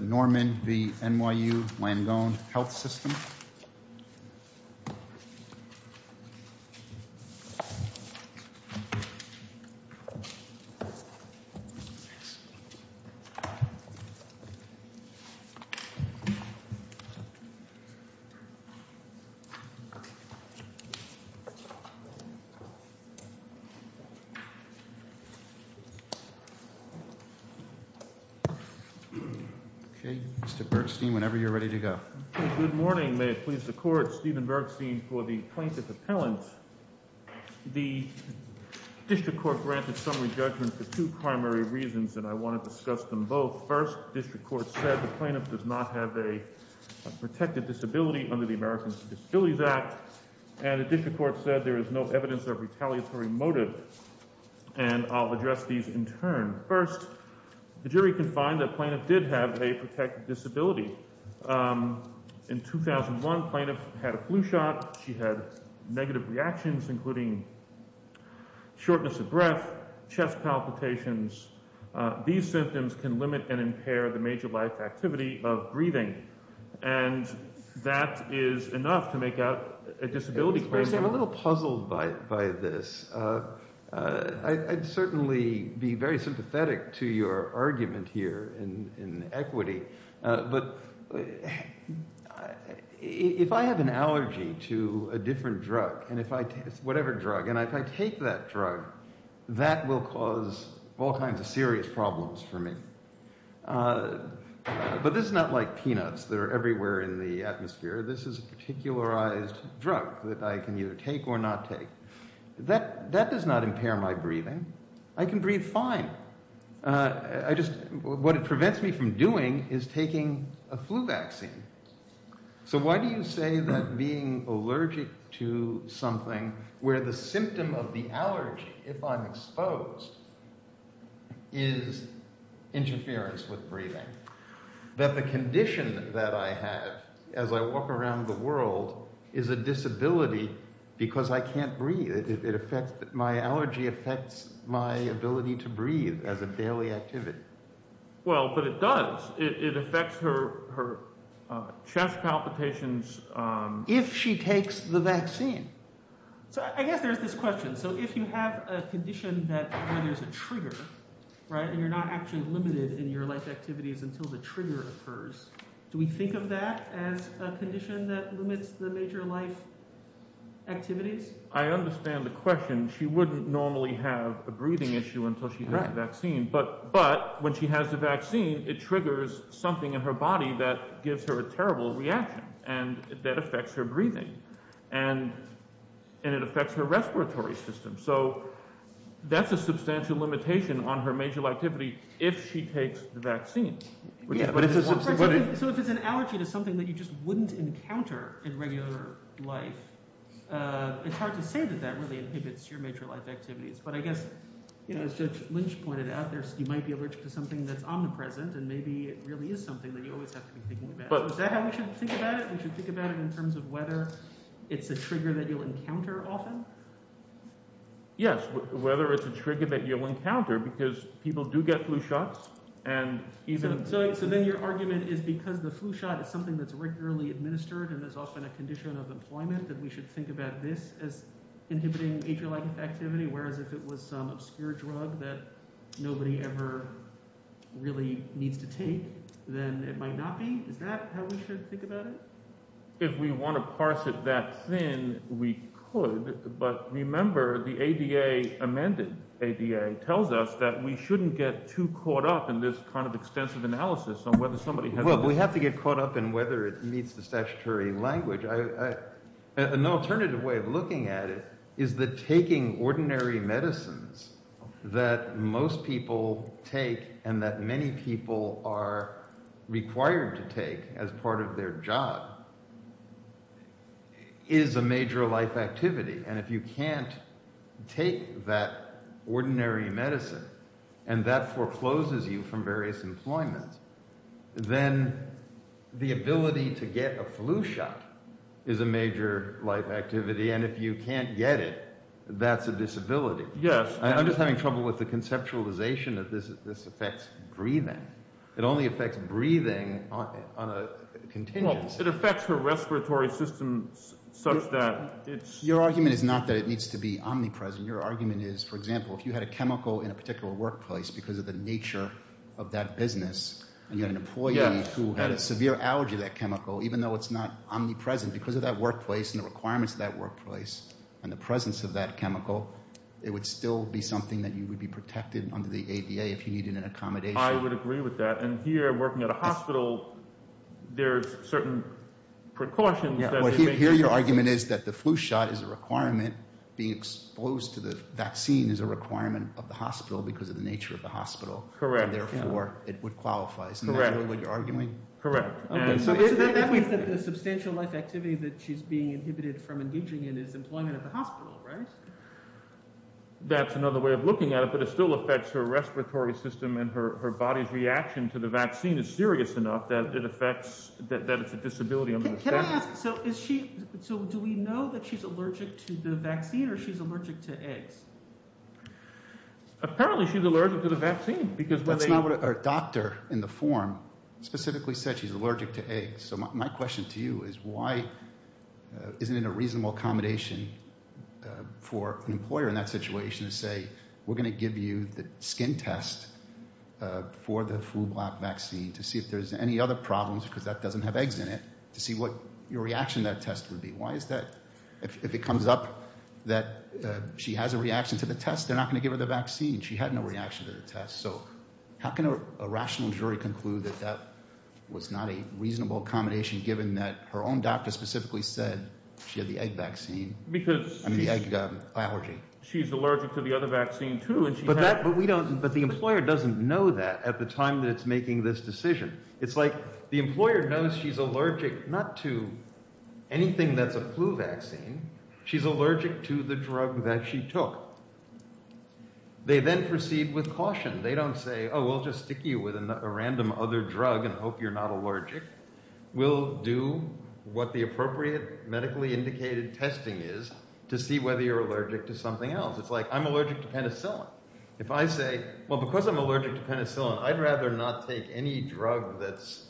Norman v. NYU Langone Health System Okay, Mr. Bergstein, whenever you're ready to go. Good morning. May it please the Court, Stephen Bergstein for the Plaintiff Appellant. The District Court granted summary judgment for two primary reasons, and I want to discuss them both. First, the District Court said the plaintiff does not have a protected disability under the Americans with Disabilities Act, and the District Court said there is no evidence of retaliatory motive, and I'll address these in turn. First, the jury can find that the plaintiff did have a protected disability. In 2001, the plaintiff had a flu shot. She had negative reactions, including shortness of breath, chest palpitations. These symptoms can limit and impair the major life activity of breathing, and that is enough to make out a disability claim. Mr. Bergstein, I'm a little puzzled by this. I'd certainly be very sympathetic to your argument here in equity, but if I have an allergy to a different drug, whatever drug, and if I take that drug, that will cause all kinds of serious problems for me. But this is not like peanuts that are everywhere in the atmosphere. This is a particularized drug that I can either take or not take. That does not impair my breathing. I can breathe fine. I just – what it prevents me from doing is taking a flu vaccine. So why do you say that being allergic to something where the symptom of the allergy, if I'm exposed, is interference with breathing, that the condition that I have as I walk around the world is a disability because I can't breathe? It affects – my allergy affects my ability to breathe as a daily activity. Well, but it does. It affects her chest palpitations. If she takes the vaccine. So I guess there's this question. So if you have a condition that – where there's a trigger, right, and you're not actually limited in your life activities until the trigger occurs, do we think of that as a condition that limits the major life activities? I understand the question. She wouldn't normally have a breathing issue until she got the vaccine. But when she has the vaccine, it triggers something in her body that gives her a terrible reaction and that affects her breathing. And it affects her respiratory system. So that's a substantial limitation on her major life activity if she takes the vaccine. So if it's an allergy to something that you just wouldn't encounter in regular life, it's hard to say that that really inhibits your major life activities. But I guess, as Judge Lynch pointed out, you might be allergic to something that's omnipresent and maybe it really is something that you always have to be thinking about. Is that how we should think about it? We should think about it in terms of whether it's a trigger that you'll encounter often? Yes, whether it's a trigger that you'll encounter because people do get flu shots. So then your argument is because the flu shot is something that's regularly administered and is often a condition of employment that we should think about this as inhibiting major life activity, whereas if it was some obscure drug that nobody ever really needs to take, then it might not be? Is that how we should think about it? If we want to parse it that thin, we could. But remember, the ADA, amended ADA, tells us that we shouldn't get too caught up in this kind of extensive analysis on whether somebody has this. Well, we have to get caught up in whether it meets the statutory language. An alternative way of looking at it is that taking ordinary medicines that most people take and that many people are required to take as part of their job is a major life activity, and if you can't take that ordinary medicine and that forecloses you from various employment, then the ability to get a flu shot is a major life activity, and if you can't get it, that's a disability. I'm just having trouble with the conceptualization of this. This affects breathing. It only affects breathing on a continuous... It affects the respiratory system such that it's... Your argument is not that it needs to be omnipresent. Your argument is, for example, if you had a chemical in a particular workplace because of the nature of that business and you had an employee who had a severe allergy to that chemical, even though it's not omnipresent because of that workplace and the requirements of that workplace and the presence of that chemical, it would still be something that you would be protected under the ADA if you needed an accommodation. I would agree with that, and here, working at a hospital, there are certain precautions... Here your argument is that the flu shot is a requirement. Being exposed to the vaccine is a requirement of the hospital because of the nature of the hospital. Correct. Therefore, it would qualify. Correct. Isn't that what you're arguing? Correct. So that means that the substantial life activity that she's being inhibited from engaging in is employment at the hospital, right? That's another way of looking at it, but it still affects her respiratory system and her body's reaction to the vaccine is serious enough that it affects... that it's a disability under the standard. Can I ask, so is she... So do we know that she's allergic to the vaccine or she's allergic to eggs? Apparently she's allergic to the vaccine because when they... So my question to you is why isn't it a reasonable accommodation for an employer in that situation to say, we're going to give you the skin test for the flu vaccine to see if there's any other problems because that doesn't have eggs in it to see what your reaction to that test would be. Why is that? If it comes up that she has a reaction to the test, they're not going to give her the vaccine. She had no reaction to the test. So how can a rational jury conclude that that was not a reasonable accommodation given that her own doctor specifically said she had the egg vaccine? Because... I mean the egg allergy. She's allergic to the other vaccine too and she... But we don't... But the employer doesn't know that at the time that it's making this decision. It's like the employer knows she's allergic not to anything that's a flu vaccine. She's allergic to the drug that she took. They then proceed with caution. They don't say, oh, we'll just stick you with a random other drug and hope you're not allergic. We'll do what the appropriate medically indicated testing is to see whether you're allergic to something else. It's like I'm allergic to penicillin. If I say, well, because I'm allergic to penicillin, I'd rather not take any drug that's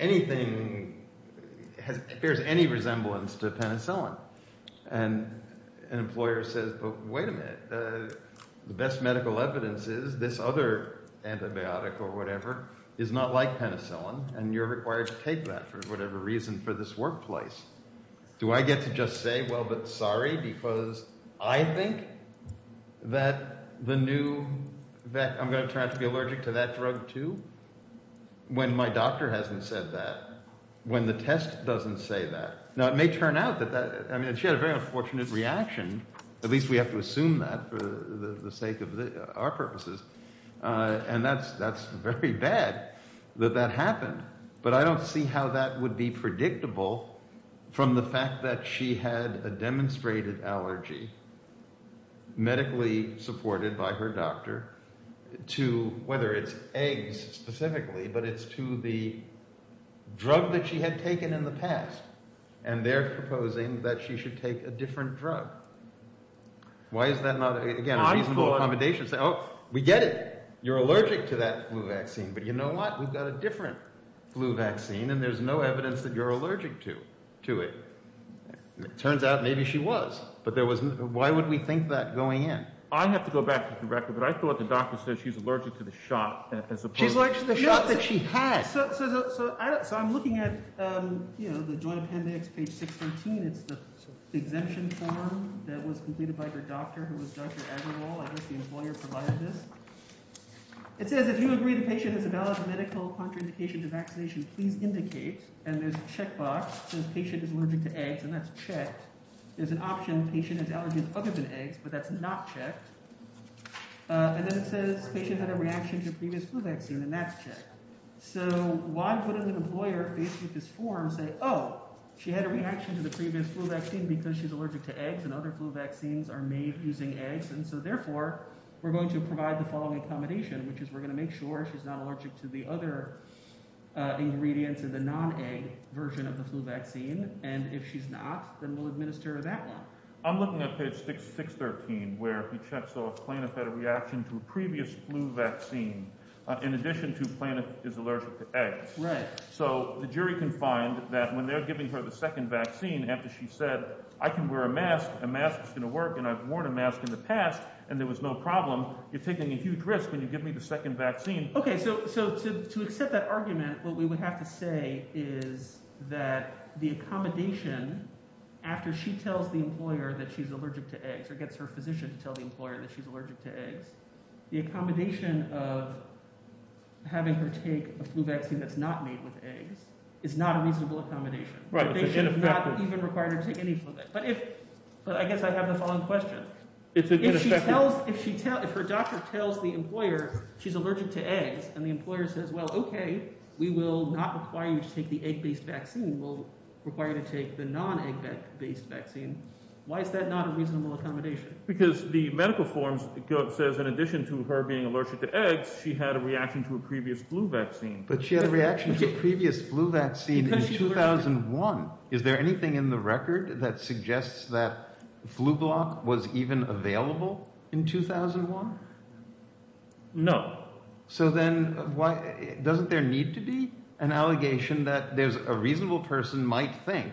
anything... bears any resemblance to penicillin. And an employer says, but wait a minute. The best medical evidence is this other antibiotic or whatever is not like penicillin and you're required to take that for whatever reason for this workplace. Do I get to just say, well, but sorry because I think that the new... that I'm going to turn out to be allergic to that drug too when my doctor hasn't said that, when the test doesn't say that. Now, it may turn out that that... I mean, she had a very unfortunate reaction. At least we have to assume that for the sake of our purposes. And that's very bad that that happened. But I don't see how that would be predictable from the fact that she had a demonstrated allergy, medically supported by her doctor, to whether it's eggs specifically, but it's to the drug that she had taken in the past. And they're proposing that she should take a different drug. Why is that not... Again, we get it. You're allergic to that flu vaccine. But you know what? We've got a different flu vaccine and there's no evidence that you're allergic to it. It turns out maybe she was. But there was... Why would we think that going in? I have to go back to the record. But I thought the doctor said she's allergic to the shot as opposed to... She's allergic to the shot that she had. So I'm looking at the Joint Appendix, page 613. It's the exemption form that was completed by her doctor, who was Dr. Agarwal. I guess the employer provided this. It says, if you agree the patient has a valid medical contraindication to vaccination, please indicate. And there's a checkbox that says patient is allergic to eggs, and that's checked. There's an option, patient has allergies other than eggs, but that's not checked. And then it says patient had a reaction to previous flu vaccine, and that's checked. So why would an employer, faced with this form, say, oh, she had a reaction to the previous flu vaccine because she's allergic to eggs and other flu vaccines are made using eggs. And so, therefore, we're going to provide the following accommodation, which is we're going to make sure she's not allergic to the other ingredients in the non-egg version of the flu vaccine. And if she's not, then we'll administer that one. I'm looking at page 613, where he checks off Planoff had a reaction to a previous flu vaccine, in addition to Planoff is allergic to eggs. So the jury can find that when they're giving her the second vaccine, after she said, I can wear a mask, a mask is going to work, and I've worn a mask in the past, and there was no problem, you're taking a huge risk when you give me the second vaccine. Okay, so to accept that argument, what we would have to say is that the accommodation, after she tells the employer that she's allergic to eggs or gets her physician to tell the employer that she's allergic to eggs, the accommodation of having her take a flu vaccine that's not made with eggs is not a reasonable accommodation. They should not even require her to take any flu vaccine. But I guess I have the following question. If her doctor tells the employer she's allergic to eggs and the employer says, well, okay, we will not require you to take the egg-based vaccine, we'll require you to take the non-egg-based vaccine. Why is that not a reasonable accommodation? Because the medical form says in addition to her being allergic to eggs, she had a reaction to a previous flu vaccine. But she had a reaction to a previous flu vaccine in 2001. Is there anything in the record that suggests that flu block was even available in 2001? No. So then doesn't there need to be an allegation that there's a reasonable person might think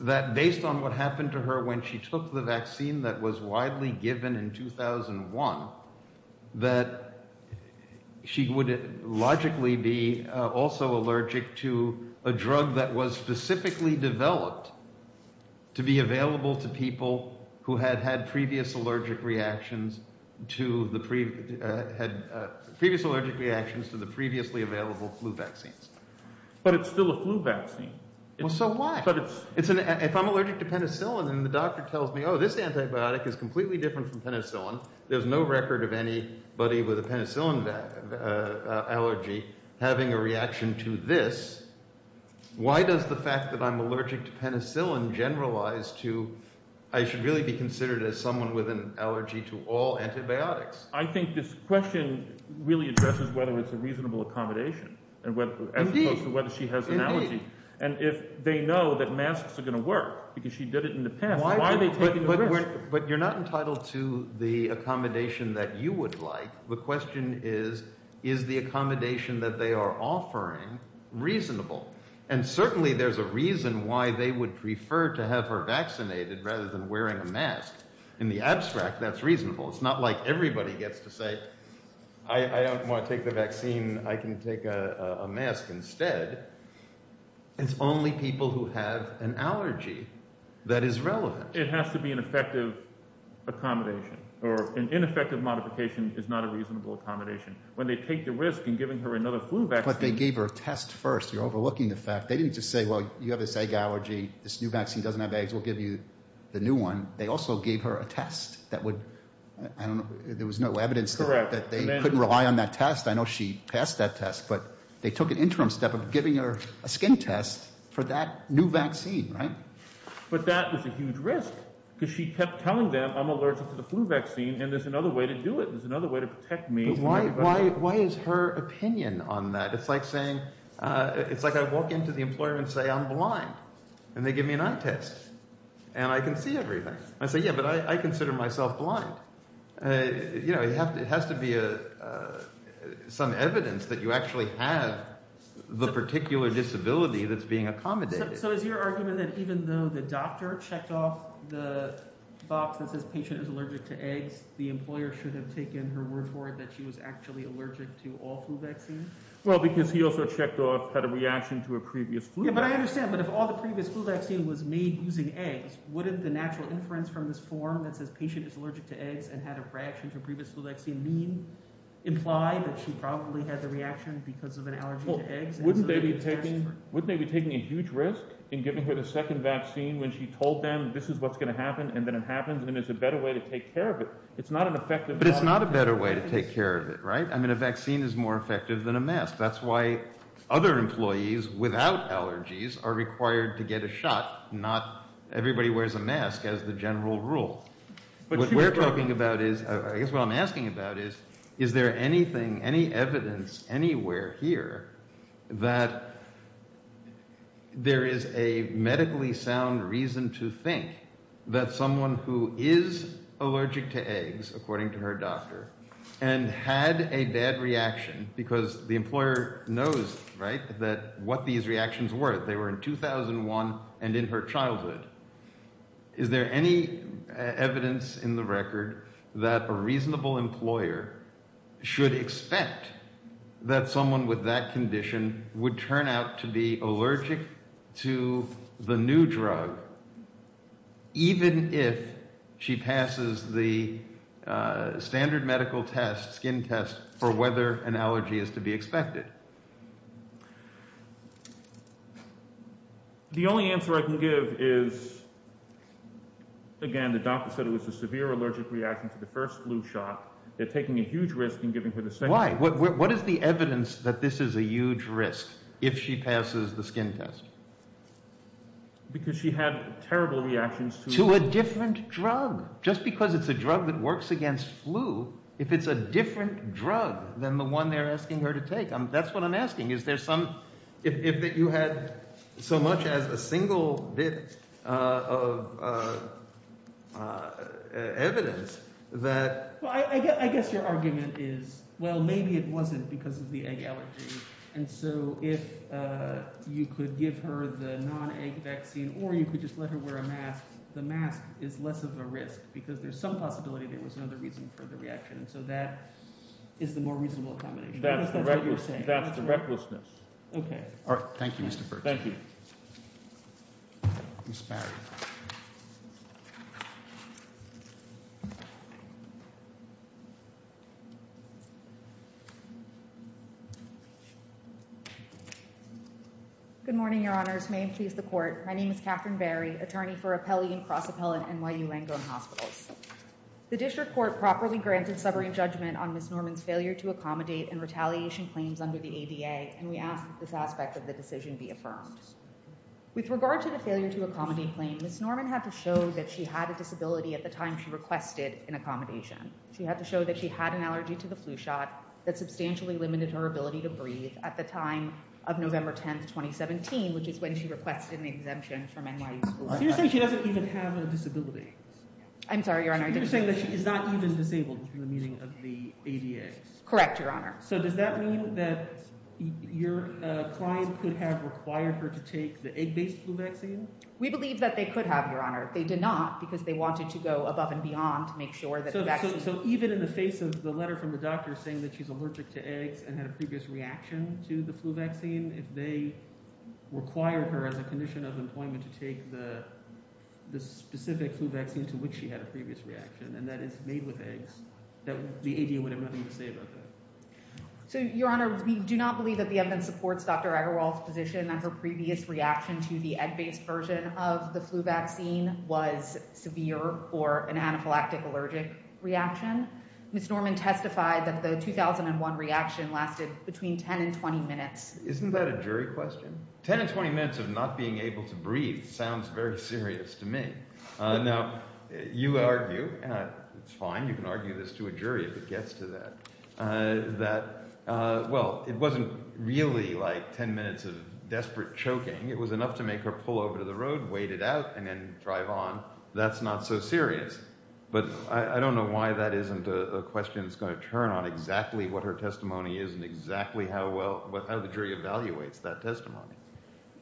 that based on what happened to her when she took the vaccine that was widely given in 2001, that she would logically be also allergic to a drug that was specifically developed to be available to people who had had previous allergic reactions to the previously available flu vaccines. But it's still a flu vaccine. So what? If I'm allergic to penicillin and the doctor tells me, oh, this antibiotic is completely different from penicillin, there's no record of anybody with a penicillin allergy having a reaction to this. Why does the fact that I'm allergic to penicillin generalize to I should really be considered as someone with an allergy to all antibiotics? I think this question really addresses whether it's a reasonable accommodation as opposed to whether she has an allergy. And if they know that masks are going to work because she did it in the past, why are they taking the risk? But you're not entitled to the accommodation that you would like. The question is, is the accommodation that they are offering reasonable? And certainly there's a reason why they would prefer to have her vaccinated rather than wearing a mask. In the abstract, that's reasonable. It's not like everybody gets to say, I don't want to take the vaccine. I can take a mask instead. It's only people who have an allergy that is relevant. It has to be an effective accommodation, or an ineffective modification is not a reasonable accommodation. When they take the risk in giving her another flu vaccine. But they gave her a test first. You're overlooking the fact. They didn't just say, well, you have this egg allergy. This new vaccine doesn't have eggs. We'll give you the new one. They also gave her a test that would, I don't know, there was no evidence that they couldn't rely on that test. I know she passed that test, but they took an interim step of giving her a skin test for that new vaccine, right? But that was a huge risk because she kept telling them, I'm allergic to the flu vaccine, and there's another way to do it. There's another way to protect me. Why is her opinion on that? It's like saying, it's like I walk into the employer and say, I'm blind. And they give me an eye test. And I can see everything. I say, yeah, but I consider myself blind. You know, it has to be some evidence that you actually have the particular disability that's being accommodated. So is your argument that even though the doctor checked off the box that says patient is allergic to eggs, the employer should have taken her word for it that she was actually allergic to all flu vaccines? Well, because he also checked off – had a reaction to a previous flu vaccine. Yeah, but I understand. But if all the previous flu vaccine was made using eggs, wouldn't the natural inference from this form that says patient is allergic to eggs and had a reaction to a previous flu vaccine mean – imply that she probably had the reaction because of an allergy to eggs? Wouldn't they be taking a huge risk in giving her the second vaccine when she told them this is what's going to happen and then it happens and there's a better way to take care of it? It's not an effective – But it's not a better way to take care of it, right? I mean a vaccine is more effective than a mask. That's why other employees without allergies are required to get a shot. Not everybody wears a mask as the general rule. What we're talking about is – I guess what I'm asking about is is there anything, any evidence anywhere here that there is a medically sound reason to think that someone who is allergic to eggs, according to her doctor, and had a bad reaction because the employer knows, right, that – what these reactions were. They were in 2001 and in her childhood. Is there any evidence in the record that a reasonable employer should expect that someone with that condition would turn out to be allergic to the new drug even if she passes the standard medical test, skin test, for whether an allergy is to be expected? The only answer I can give is, again, the doctor said it was a severe allergic reaction to the first flu shot. They're taking a huge risk in giving her the second one. Why? What is the evidence that this is a huge risk if she passes the skin test? Because she had terrible reactions to – To a different drug. Just because it's a drug that works against flu, if it's a different drug than the one they're asking her to take, that's what I'm asking. Is there some – if you had so much as a single bit of evidence that – If you could give her the non-egg vaccine or you could just let her wear a mask, the mask is less of a risk because there's some possibility there was another reason for the reaction, and so that is the more reasonable combination. That's what you're saying. That's the recklessness. Okay. All right. Thank you, Mr. Berks. Thank you. Ms. Barry. Good morning, Your Honors. May it please the Court. My name is Catherine Barry, attorney for Appellee and Cross-Appellant at NYU Langone Hospitals. The district court properly granted sobering judgment on Ms. Norman's failure to accommodate and retaliation claims under the ADA, and we ask that this aspect of the decision be affirmed. With regard to the failure to accommodate claim, Ms. Norman had to show that she had a disability at the time she requested an accommodation. She had to show that she had an allergy to the flu shot that substantially limited her ability to breathe at the time of November 10, 2017, which is when she requested an exemption from NYU School of Health. So you're saying she doesn't even have a disability? I'm sorry, Your Honor. So you're saying that she's not even disabled in the meaning of the ADA? Correct, Your Honor. So does that mean that your client could have required her to take the egg-based flu vaccine? We believe that they could have, Your Honor. They did not because they wanted to go above and beyond to make sure that the vaccine… So even in the face of the letter from the doctor saying that she's allergic to eggs and had a previous reaction to the flu vaccine, if they require her as a condition of employment to take the specific flu vaccine to which she had a previous reaction, and that is made with eggs, the ADA would have nothing to say about that. So, Your Honor, we do not believe that the evidence supports Dr. Aggarwal's position that her previous reaction to the egg-based version of the flu vaccine was severe or an anaphylactic allergic reaction. Ms. Norman testified that the 2001 reaction lasted between 10 and 20 minutes. Isn't that a jury question? 10 and 20 minutes of not being able to breathe sounds very serious to me. Now, you argue – it's fine, you can argue this to a jury if it gets to that – that, well, it wasn't really like 10 minutes of desperate choking. It was enough to make her pull over to the road, wait it out, and then drive on. That's not so serious. But I don't know why that isn't a question that's going to turn on exactly what her testimony is and exactly how well – how the jury evaluates that testimony.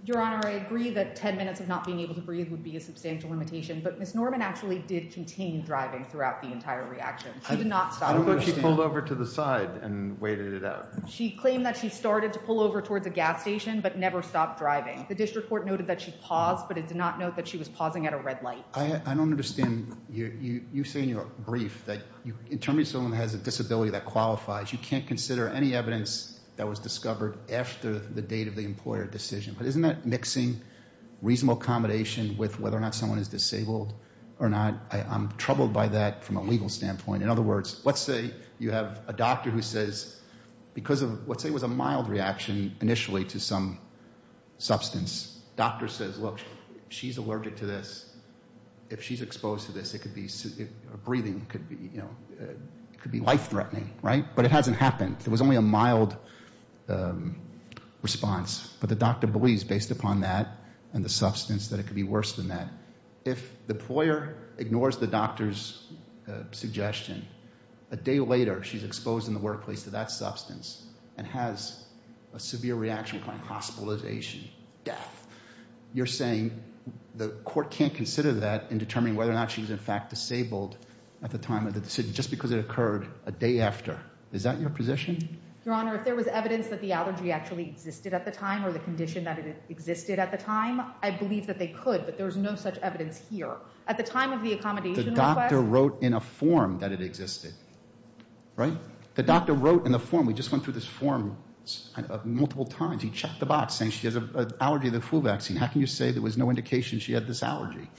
Your Honor, I agree that 10 minutes of not being able to breathe would be a substantial limitation, but Ms. Norman actually did continue driving throughout the entire reaction. She did not stop. How about she pulled over to the side and waited it out? She claimed that she started to pull over towards a gas station but never stopped driving. The district court noted that she paused, but it did not note that she was pausing at a red light. I don't understand. You say in your brief that you – in terms of someone who has a disability that qualifies, you can't consider any evidence that was discovered after the date of the employer decision. But isn't that mixing reasonable accommodation with whether or not someone is disabled or not? I'm troubled by that from a legal standpoint. In other words, let's say you have a doctor who says because of – let's say it was a mild reaction initially to some substance. The doctor says, look, she's allergic to this. If she's exposed to this, it could be – breathing could be life-threatening, right? But it hasn't happened. It was only a mild response. But the doctor believes based upon that and the substance that it could be worse than that. If the employer ignores the doctor's suggestion, a day later she's exposed in the workplace to that substance and has a severe reaction, hospitalization, death. You're saying the court can't consider that in determining whether or not she was in fact disabled at the time of the decision just because it occurred a day after. Is that your position? Your Honor, if there was evidence that the allergy actually existed at the time or the condition that it existed at the time, I believe that they could. But there's no such evidence here. At the time of the accommodation request – The doctor wrote in a form that it existed, right? The doctor wrote in the form. We just went through this form multiple times. He checked the box saying she has an allergy to the flu vaccine. How can you say there was no indication she had this allergy?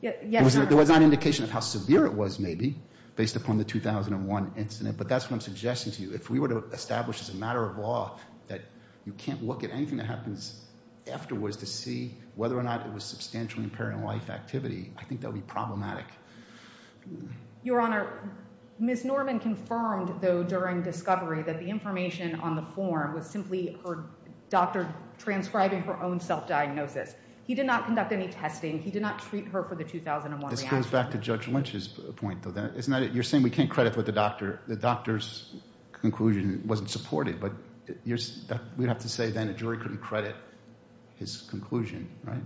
Yes, Your Honor. There was not an indication of how severe it was maybe based upon the 2001 incident. But that's what I'm suggesting to you. If we were to establish as a matter of law that you can't look at anything that happens afterwards to see whether or not it was substantially impairing life activity, I think that would be problematic. Your Honor, Ms. Norman confirmed, though, during discovery that the information on the form was simply her doctor transcribing her own self-diagnosis. He did not conduct any testing. He did not treat her for the 2001 reaction. This goes back to Judge Lynch's point, though. You're saying we can't credit what the doctor – the doctor's conclusion wasn't supported. But we'd have to say then a jury couldn't credit his conclusion, right?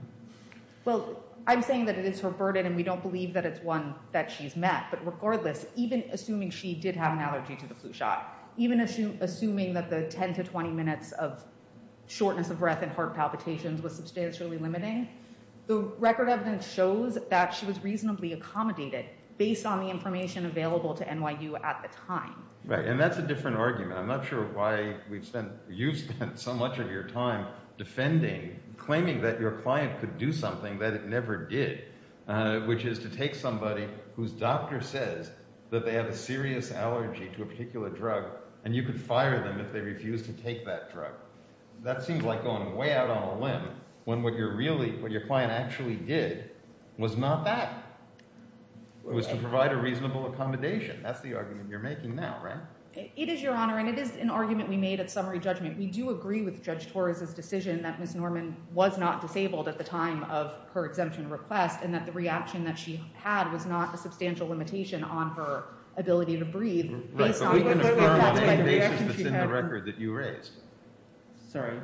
Well, I'm saying that it is her burden, and we don't believe that it's one that she's met. But regardless, even assuming she did have an allergy to the flu shot, even assuming that the 10 to 20 minutes of shortness of breath and heart palpitations was substantially limiting, the record evidence shows that she was reasonably accommodated based on the information available to NYU at the time. Right, and that's a different argument. I'm not sure why we've spent – you've spent so much of your time defending, claiming that your client could do something that it never did, which is to take somebody whose doctor says that they have a serious allergy to a particular drug, and you could fire them if they refuse to take that drug. That seems like going way out on a limb when what you're really – what your client actually did was not that. It was to provide a reasonable accommodation. That's the argument you're making now, right? It is, Your Honor, and it is an argument we made at summary judgment. We do agree with Judge Torres' decision that Ms. Norman was not disabled at the time of her exemption request and that the reaction that she had was not a substantial limitation on her ability to breathe. Right, but we can affirm on any basis that's in the record that you raised. Sorry,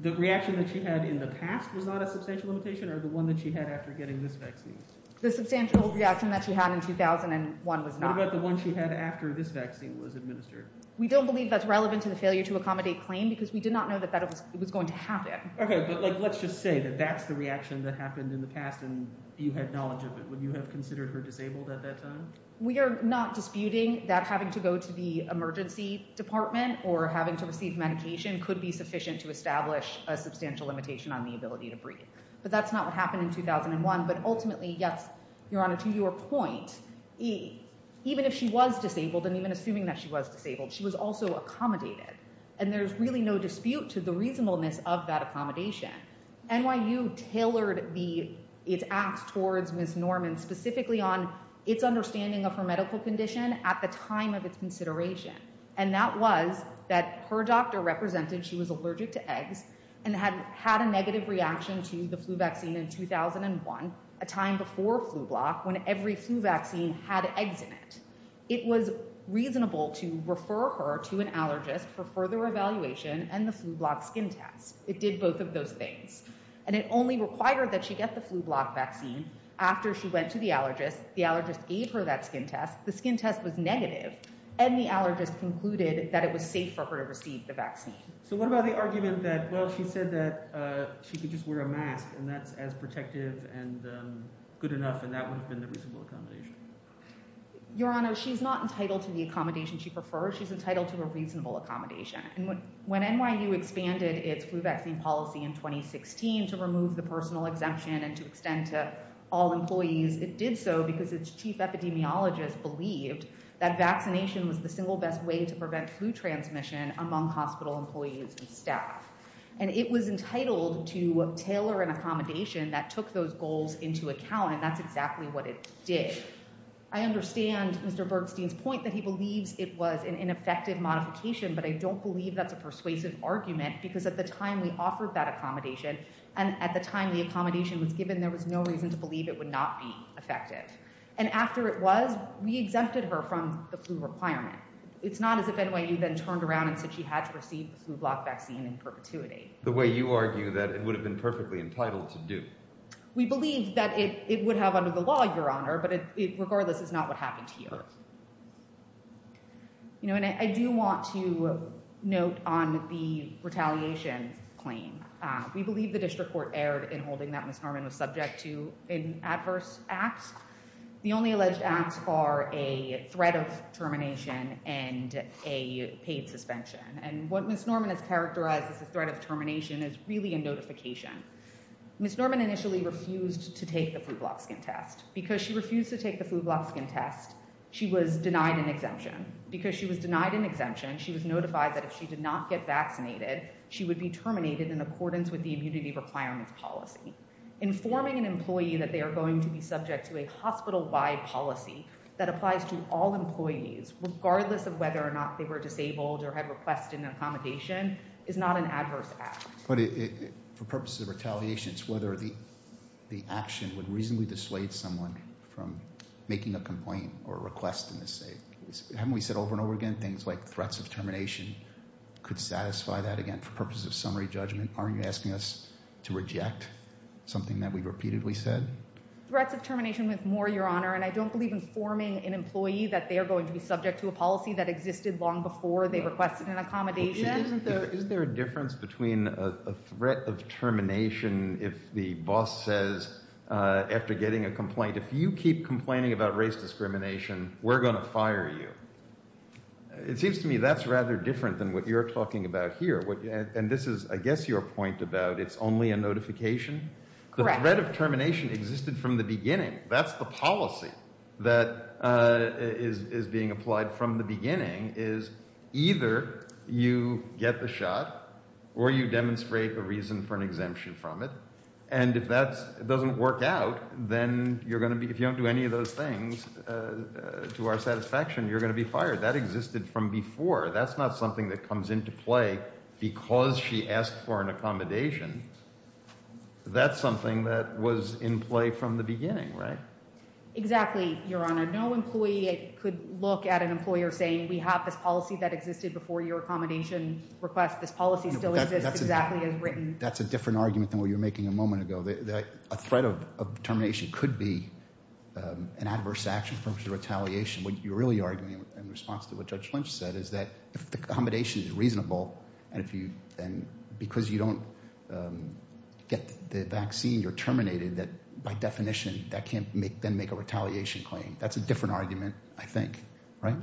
the reaction that she had in the past was not a substantial limitation or the one that she had after getting this vaccine? The substantial reaction that she had in 2001 was not. What about the one she had after this vaccine was administered? We don't believe that's relevant to the failure to accommodate claim because we did not know that that was going to happen. Okay, but like let's just say that that's the reaction that happened in the past and you had knowledge of it. Would you have considered her disabled at that time? We are not disputing that having to go to the emergency department or having to receive medication could be sufficient to establish a substantial limitation on the ability to breathe. But that's not what happened in 2001. But ultimately, yes, Your Honor, to your point, even if she was disabled and even assuming that she was disabled, she was also accommodated. And there's really no dispute to the reasonableness of that accommodation. NYU tailored its acts towards Ms. Norman specifically on its understanding of her medical condition at the time of its consideration. And that was that her doctor represented she was allergic to eggs and had had a negative reaction to the flu vaccine in 2001, a time before flu block, when every flu vaccine had eggs in it. It was reasonable to refer her to an allergist for further evaluation and the flu block skin test. It did both of those things and it only required that she get the flu block vaccine after she went to the allergist. The allergist gave her that skin test. The skin test was negative and the allergist concluded that it was safe for her to receive the vaccine. So what about the argument that, well, she said that she could just wear a mask and that's as protective and good enough and that would have been the reasonable accommodation? Your Honor, she's not entitled to the accommodation she prefers. She's entitled to a reasonable accommodation. And when NYU expanded its flu vaccine policy in 2016 to remove the personal exemption and to extend to all employees, it did so because its chief epidemiologist believed that vaccination was the single best way to prevent flu transmission among hospital employees and staff. And it was entitled to tailor an accommodation that took those goals into account. And that's exactly what it did. I understand Mr. Bergstein's point that he believes it was an ineffective modification, but I don't believe that's a persuasive argument because at the time we offered that accommodation and at the time the accommodation was given, there was no reason to believe it would not be effective. And after it was, we exempted her from the flu requirement. It's not as if NYU then turned around and said she had to receive the flu block vaccine in perpetuity. The way you argue that it would have been perfectly entitled to do. We believe that it would have under the law, Your Honor, but it regardless is not what happened here. You know, and I do want to note on the retaliation claim. We believe the district court erred in holding that Ms. Norman was subject to an adverse act. The only alleged acts are a threat of termination and a paid suspension. And what Ms. Norman has characterized as a threat of termination is really a notification. Ms. Norman initially refused to take the flu block skin test because she refused to take the flu block skin test. She was denied an exemption because she was denied an exemption. She was notified that if she did not get vaccinated, she would be terminated in accordance with the immunity requirements policy. Informing an employee that they are going to be subject to a hospital wide policy that applies to all employees, regardless of whether or not they were disabled or had requested an accommodation is not an adverse act. But for purposes of retaliation, it's whether the action would reasonably dissuade someone from making a complaint or request in this case. Haven't we said over and over again things like threats of termination could satisfy that again for purposes of summary judgment? Aren't you asking us to reject something that we've repeatedly said? Threats of termination with more, Your Honor, and I don't believe informing an employee that they are going to be subject to a policy that existed long before they requested an accommodation. Isn't there a difference between a threat of termination? If the boss says after getting a complaint, if you keep complaining about race discrimination, we're going to fire you. It seems to me that's rather different than what you're talking about here. And this is, I guess, your point about it's only a notification. That's the policy that is being applied from the beginning is either you get the shot or you demonstrate a reason for an exemption from it. And if that doesn't work out, then you're going to be if you don't do any of those things to our satisfaction, you're going to be fired. That existed from before. That's not something that comes into play because she asked for an accommodation. That's something that was in play from the beginning, right? Exactly, Your Honor. No employee could look at an employer saying we have this policy that existed before your accommodation request. This policy still exists exactly as written. That's a different argument than what you were making a moment ago. A threat of termination could be an adverse action for retaliation. What you're really arguing in response to what Judge Lynch said is that if the accommodation is reasonable and if you then because you don't get the vaccine, you're terminated that by definition that can't make then make a retaliation claim. That's a different argument, I think. Right?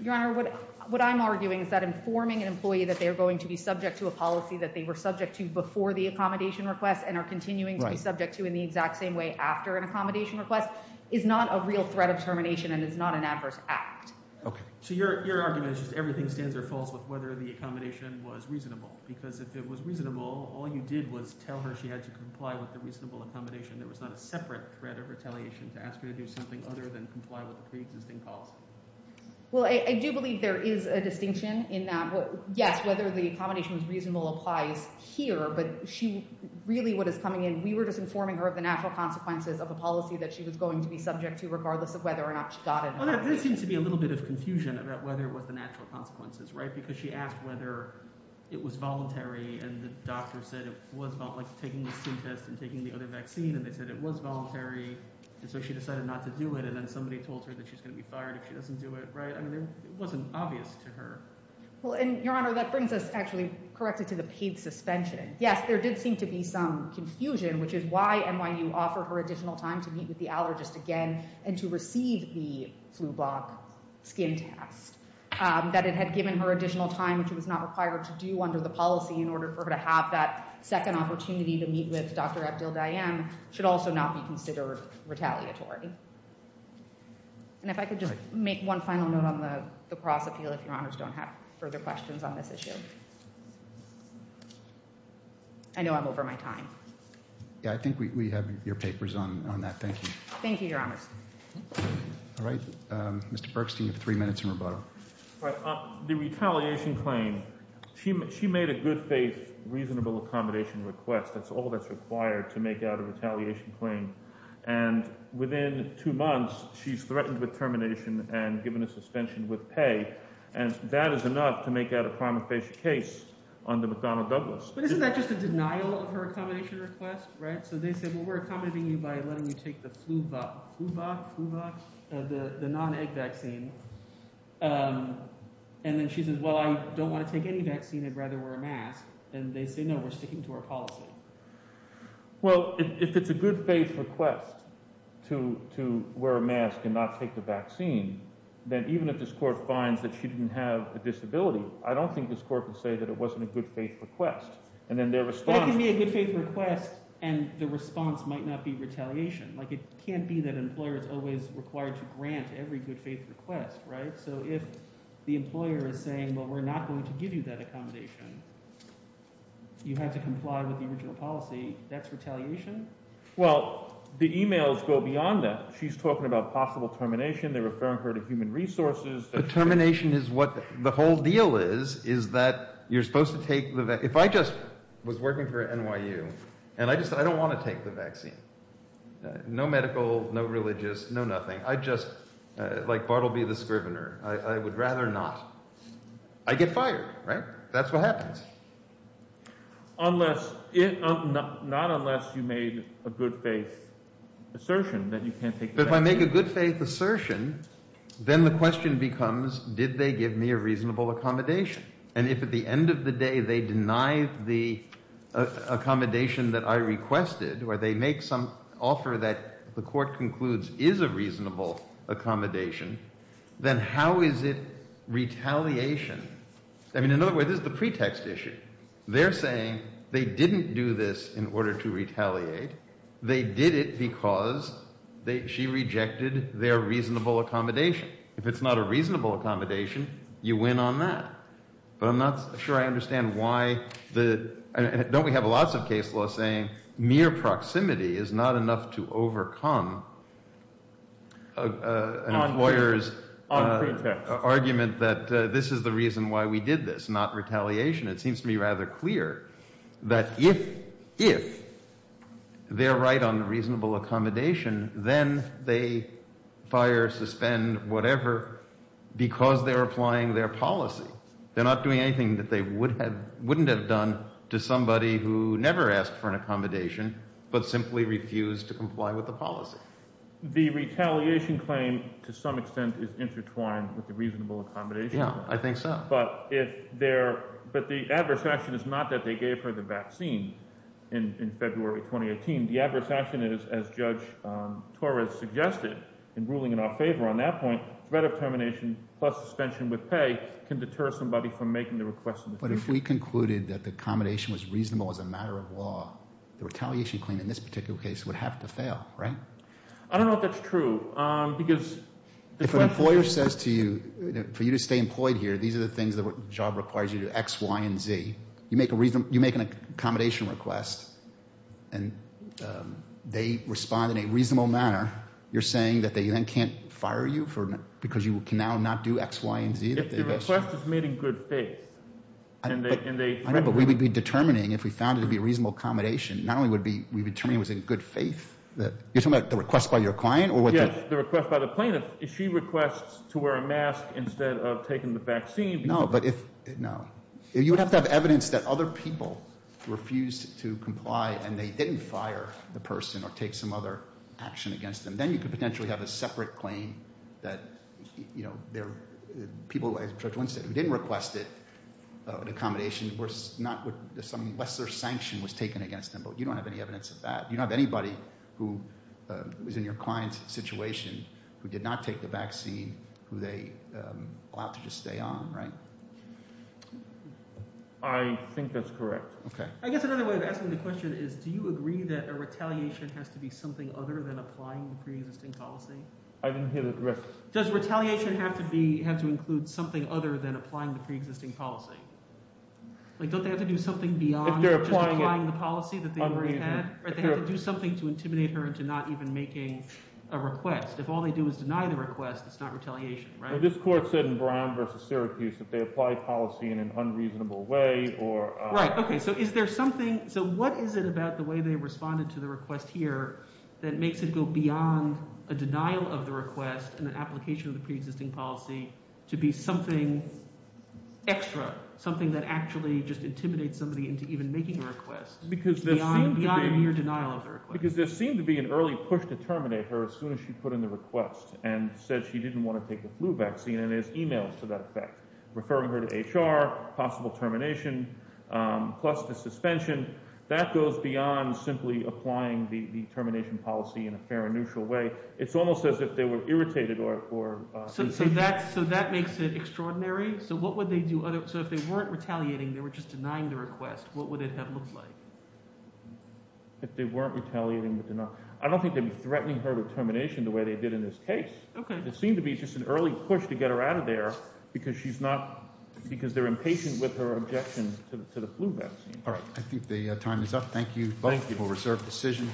Your Honor, what I'm arguing is that informing an employee that they're going to be subject to a policy that they were subject to before the accommodation request and are continuing to be subject to in the exact same way after an accommodation request is not a real threat of termination and is not an adverse act. So your argument is just everything stands or falls with whether the accommodation was reasonable because if it was reasonable, all you did was tell her she had to comply with the reasonable accommodation. There was not a separate threat of retaliation to ask her to do something other than comply with the pre-existing policy. Well, I do believe there is a distinction in that. Yes, whether the accommodation was reasonable applies here, but she really what is coming in, we were just informing her of the natural consequences of a policy that she was going to be subject to regardless of whether or not she got it. Well, there did seem to be a little bit of confusion about whether it was the natural consequences, right? Because she asked whether it was voluntary and the doctor said it was like taking the syntest and taking the other vaccine and they said it was voluntary. And so she decided not to do it and then somebody told her that she's going to be fired if she doesn't do it, right? I mean, it wasn't obvious to her. Well, and Your Honor, that brings us actually correctly to the paid suspension. Yes, there did seem to be some confusion, which is why NYU offered her additional time to meet with the allergist again and to receive the flu block skin test. That it had given her additional time, which it was not required to do under the policy in order for her to have that second opportunity to meet with Dr. Abdel-Dayem should also not be considered retaliatory. And if I could just make one final note on the cross appeal if Your Honors don't have further questions on this issue. I know I'm over my time. Yeah, I think we have your papers on that. Thank you. Thank you, Your Honors. All right, Mr. Berkstein, you have three minutes in rebuttal. The retaliation claim, she made a good faith reasonable accommodation request. That's all that's required to make out a retaliation claim. And within two months, she's threatened with termination and given a suspension with pay. And that is enough to make out a primary case on the McDonnell-Douglas. But isn't that just a denial of her accommodation request? Right. So they said, well, we're accommodating you by letting you take the flu vaccine, the non-egg vaccine. And then she says, well, I don't want to take any vaccine. I'd rather wear a mask. And they say, no, we're sticking to our policy. Well, if it's a good faith request to to wear a mask and not take the vaccine, then even if this court finds that she didn't have a disability, I don't think this court would say that it wasn't a good faith request. That can be a good faith request, and the response might not be retaliation. Like it can't be that an employer is always required to grant every good faith request. Right. So if the employer is saying, well, we're not going to give you that accommodation, you have to comply with the original policy. That's retaliation. Well, the emails go beyond that. She's talking about possible termination. They're referring her to human resources. Termination is what the whole deal is, is that you're supposed to take the if I just was working for NYU and I just I don't want to take the vaccine. No medical, no religious, no nothing. I just like Bartleby the Scrivener. I would rather not. I get fired. Right. That's what happens. Unless it not unless you made a good faith assertion that you can't take. But if I make a good faith assertion, then the question becomes, did they give me a reasonable accommodation? And if at the end of the day they deny the accommodation that I requested or they make some offer that the court concludes is a reasonable accommodation, then how is it retaliation? I mean, in other words, is the pretext issue. They're saying they didn't do this in order to retaliate. They did it because they she rejected their reasonable accommodation. If it's not a reasonable accommodation, you win on that. But I'm not sure I understand why the don't we have lots of case law saying mere proximity is not enough to overcome lawyers argument that this is the reason why we did this. It seems to me rather clear that if if they're right on the reasonable accommodation, then they fire suspend whatever because they're applying their policy. They're not doing anything that they would have wouldn't have done to somebody who never asked for an accommodation, but simply refused to comply with the policy. The retaliation claim, to some extent, is intertwined with the reasonable accommodation. Yeah, I think so. But if they're but the adverse action is not that they gave her the vaccine in February 2018. The adverse action is, as Judge Torres suggested in ruling in our favor on that point, threat of termination plus suspension with pay can deter somebody from making the request. But if we concluded that the accommodation was reasonable as a matter of law, the retaliation claim in this particular case would have to fail. Right. I don't know if that's true because. If an employer says to you for you to stay employed here, these are the things that job requires you to X, Y and Z. You make a reason you make an accommodation request and they respond in a reasonable manner. You're saying that they can't fire you for because you can now not do X, Y and Z. If the request is made in good faith and they. But we would be determining if we found it to be a reasonable accommodation. Not only would be we determine was in good faith that you're talking about the request by your client or. Yes, the request by the plaintiff. If she requests to wear a mask instead of taking the vaccine. No, but if. No, you would have to have evidence that other people refused to comply and they didn't fire the person or take some other action against them. Then you could potentially have a separate claim that, you know, there are people who didn't request it. An accommodation was not with some lesser sanction was taken against them. But you don't have any evidence of that. You don't have anybody who is in your client's situation who did not take the vaccine, who they allowed to just stay on. Right. I think that's correct. OK, I guess another way of asking the question is, do you agree that a retaliation has to be something other than applying the preexisting policy? I didn't hear the rest. Does retaliation have to be have to include something other than applying the preexisting policy? Don't they have to do something beyond just applying the policy that they already had? They have to do something to intimidate her into not even making a request. If all they do is deny the request, it's not retaliation. This court said in Brown v. Syracuse that they applied policy in an unreasonable way. Right. OK, so is there something. So what is it about the way they responded to the request here that makes it go beyond a denial of the request and an application of the preexisting policy to be something extra, something that actually just intimidates somebody into even making a request? Because there seemed to be an early push to terminate her as soon as she put in the request and said she didn't want to take the flu vaccine. Referring her to HR, possible termination, plus the suspension, that goes beyond simply applying the termination policy in a fair and neutral way. It's almost as if they were irritated or – So that makes it extraordinary? So what would they do – so if they weren't retaliating, they were just denying the request, what would it have looked like? If they weren't retaliating – I don't think they'd be threatening her with termination the way they did in this case. OK. It seemed to be just an early push to get her out of there because she's not – because they're impatient with her objection to the flu vaccine. All right. I think the time is up. Thank you. Thank you. Reserved decision.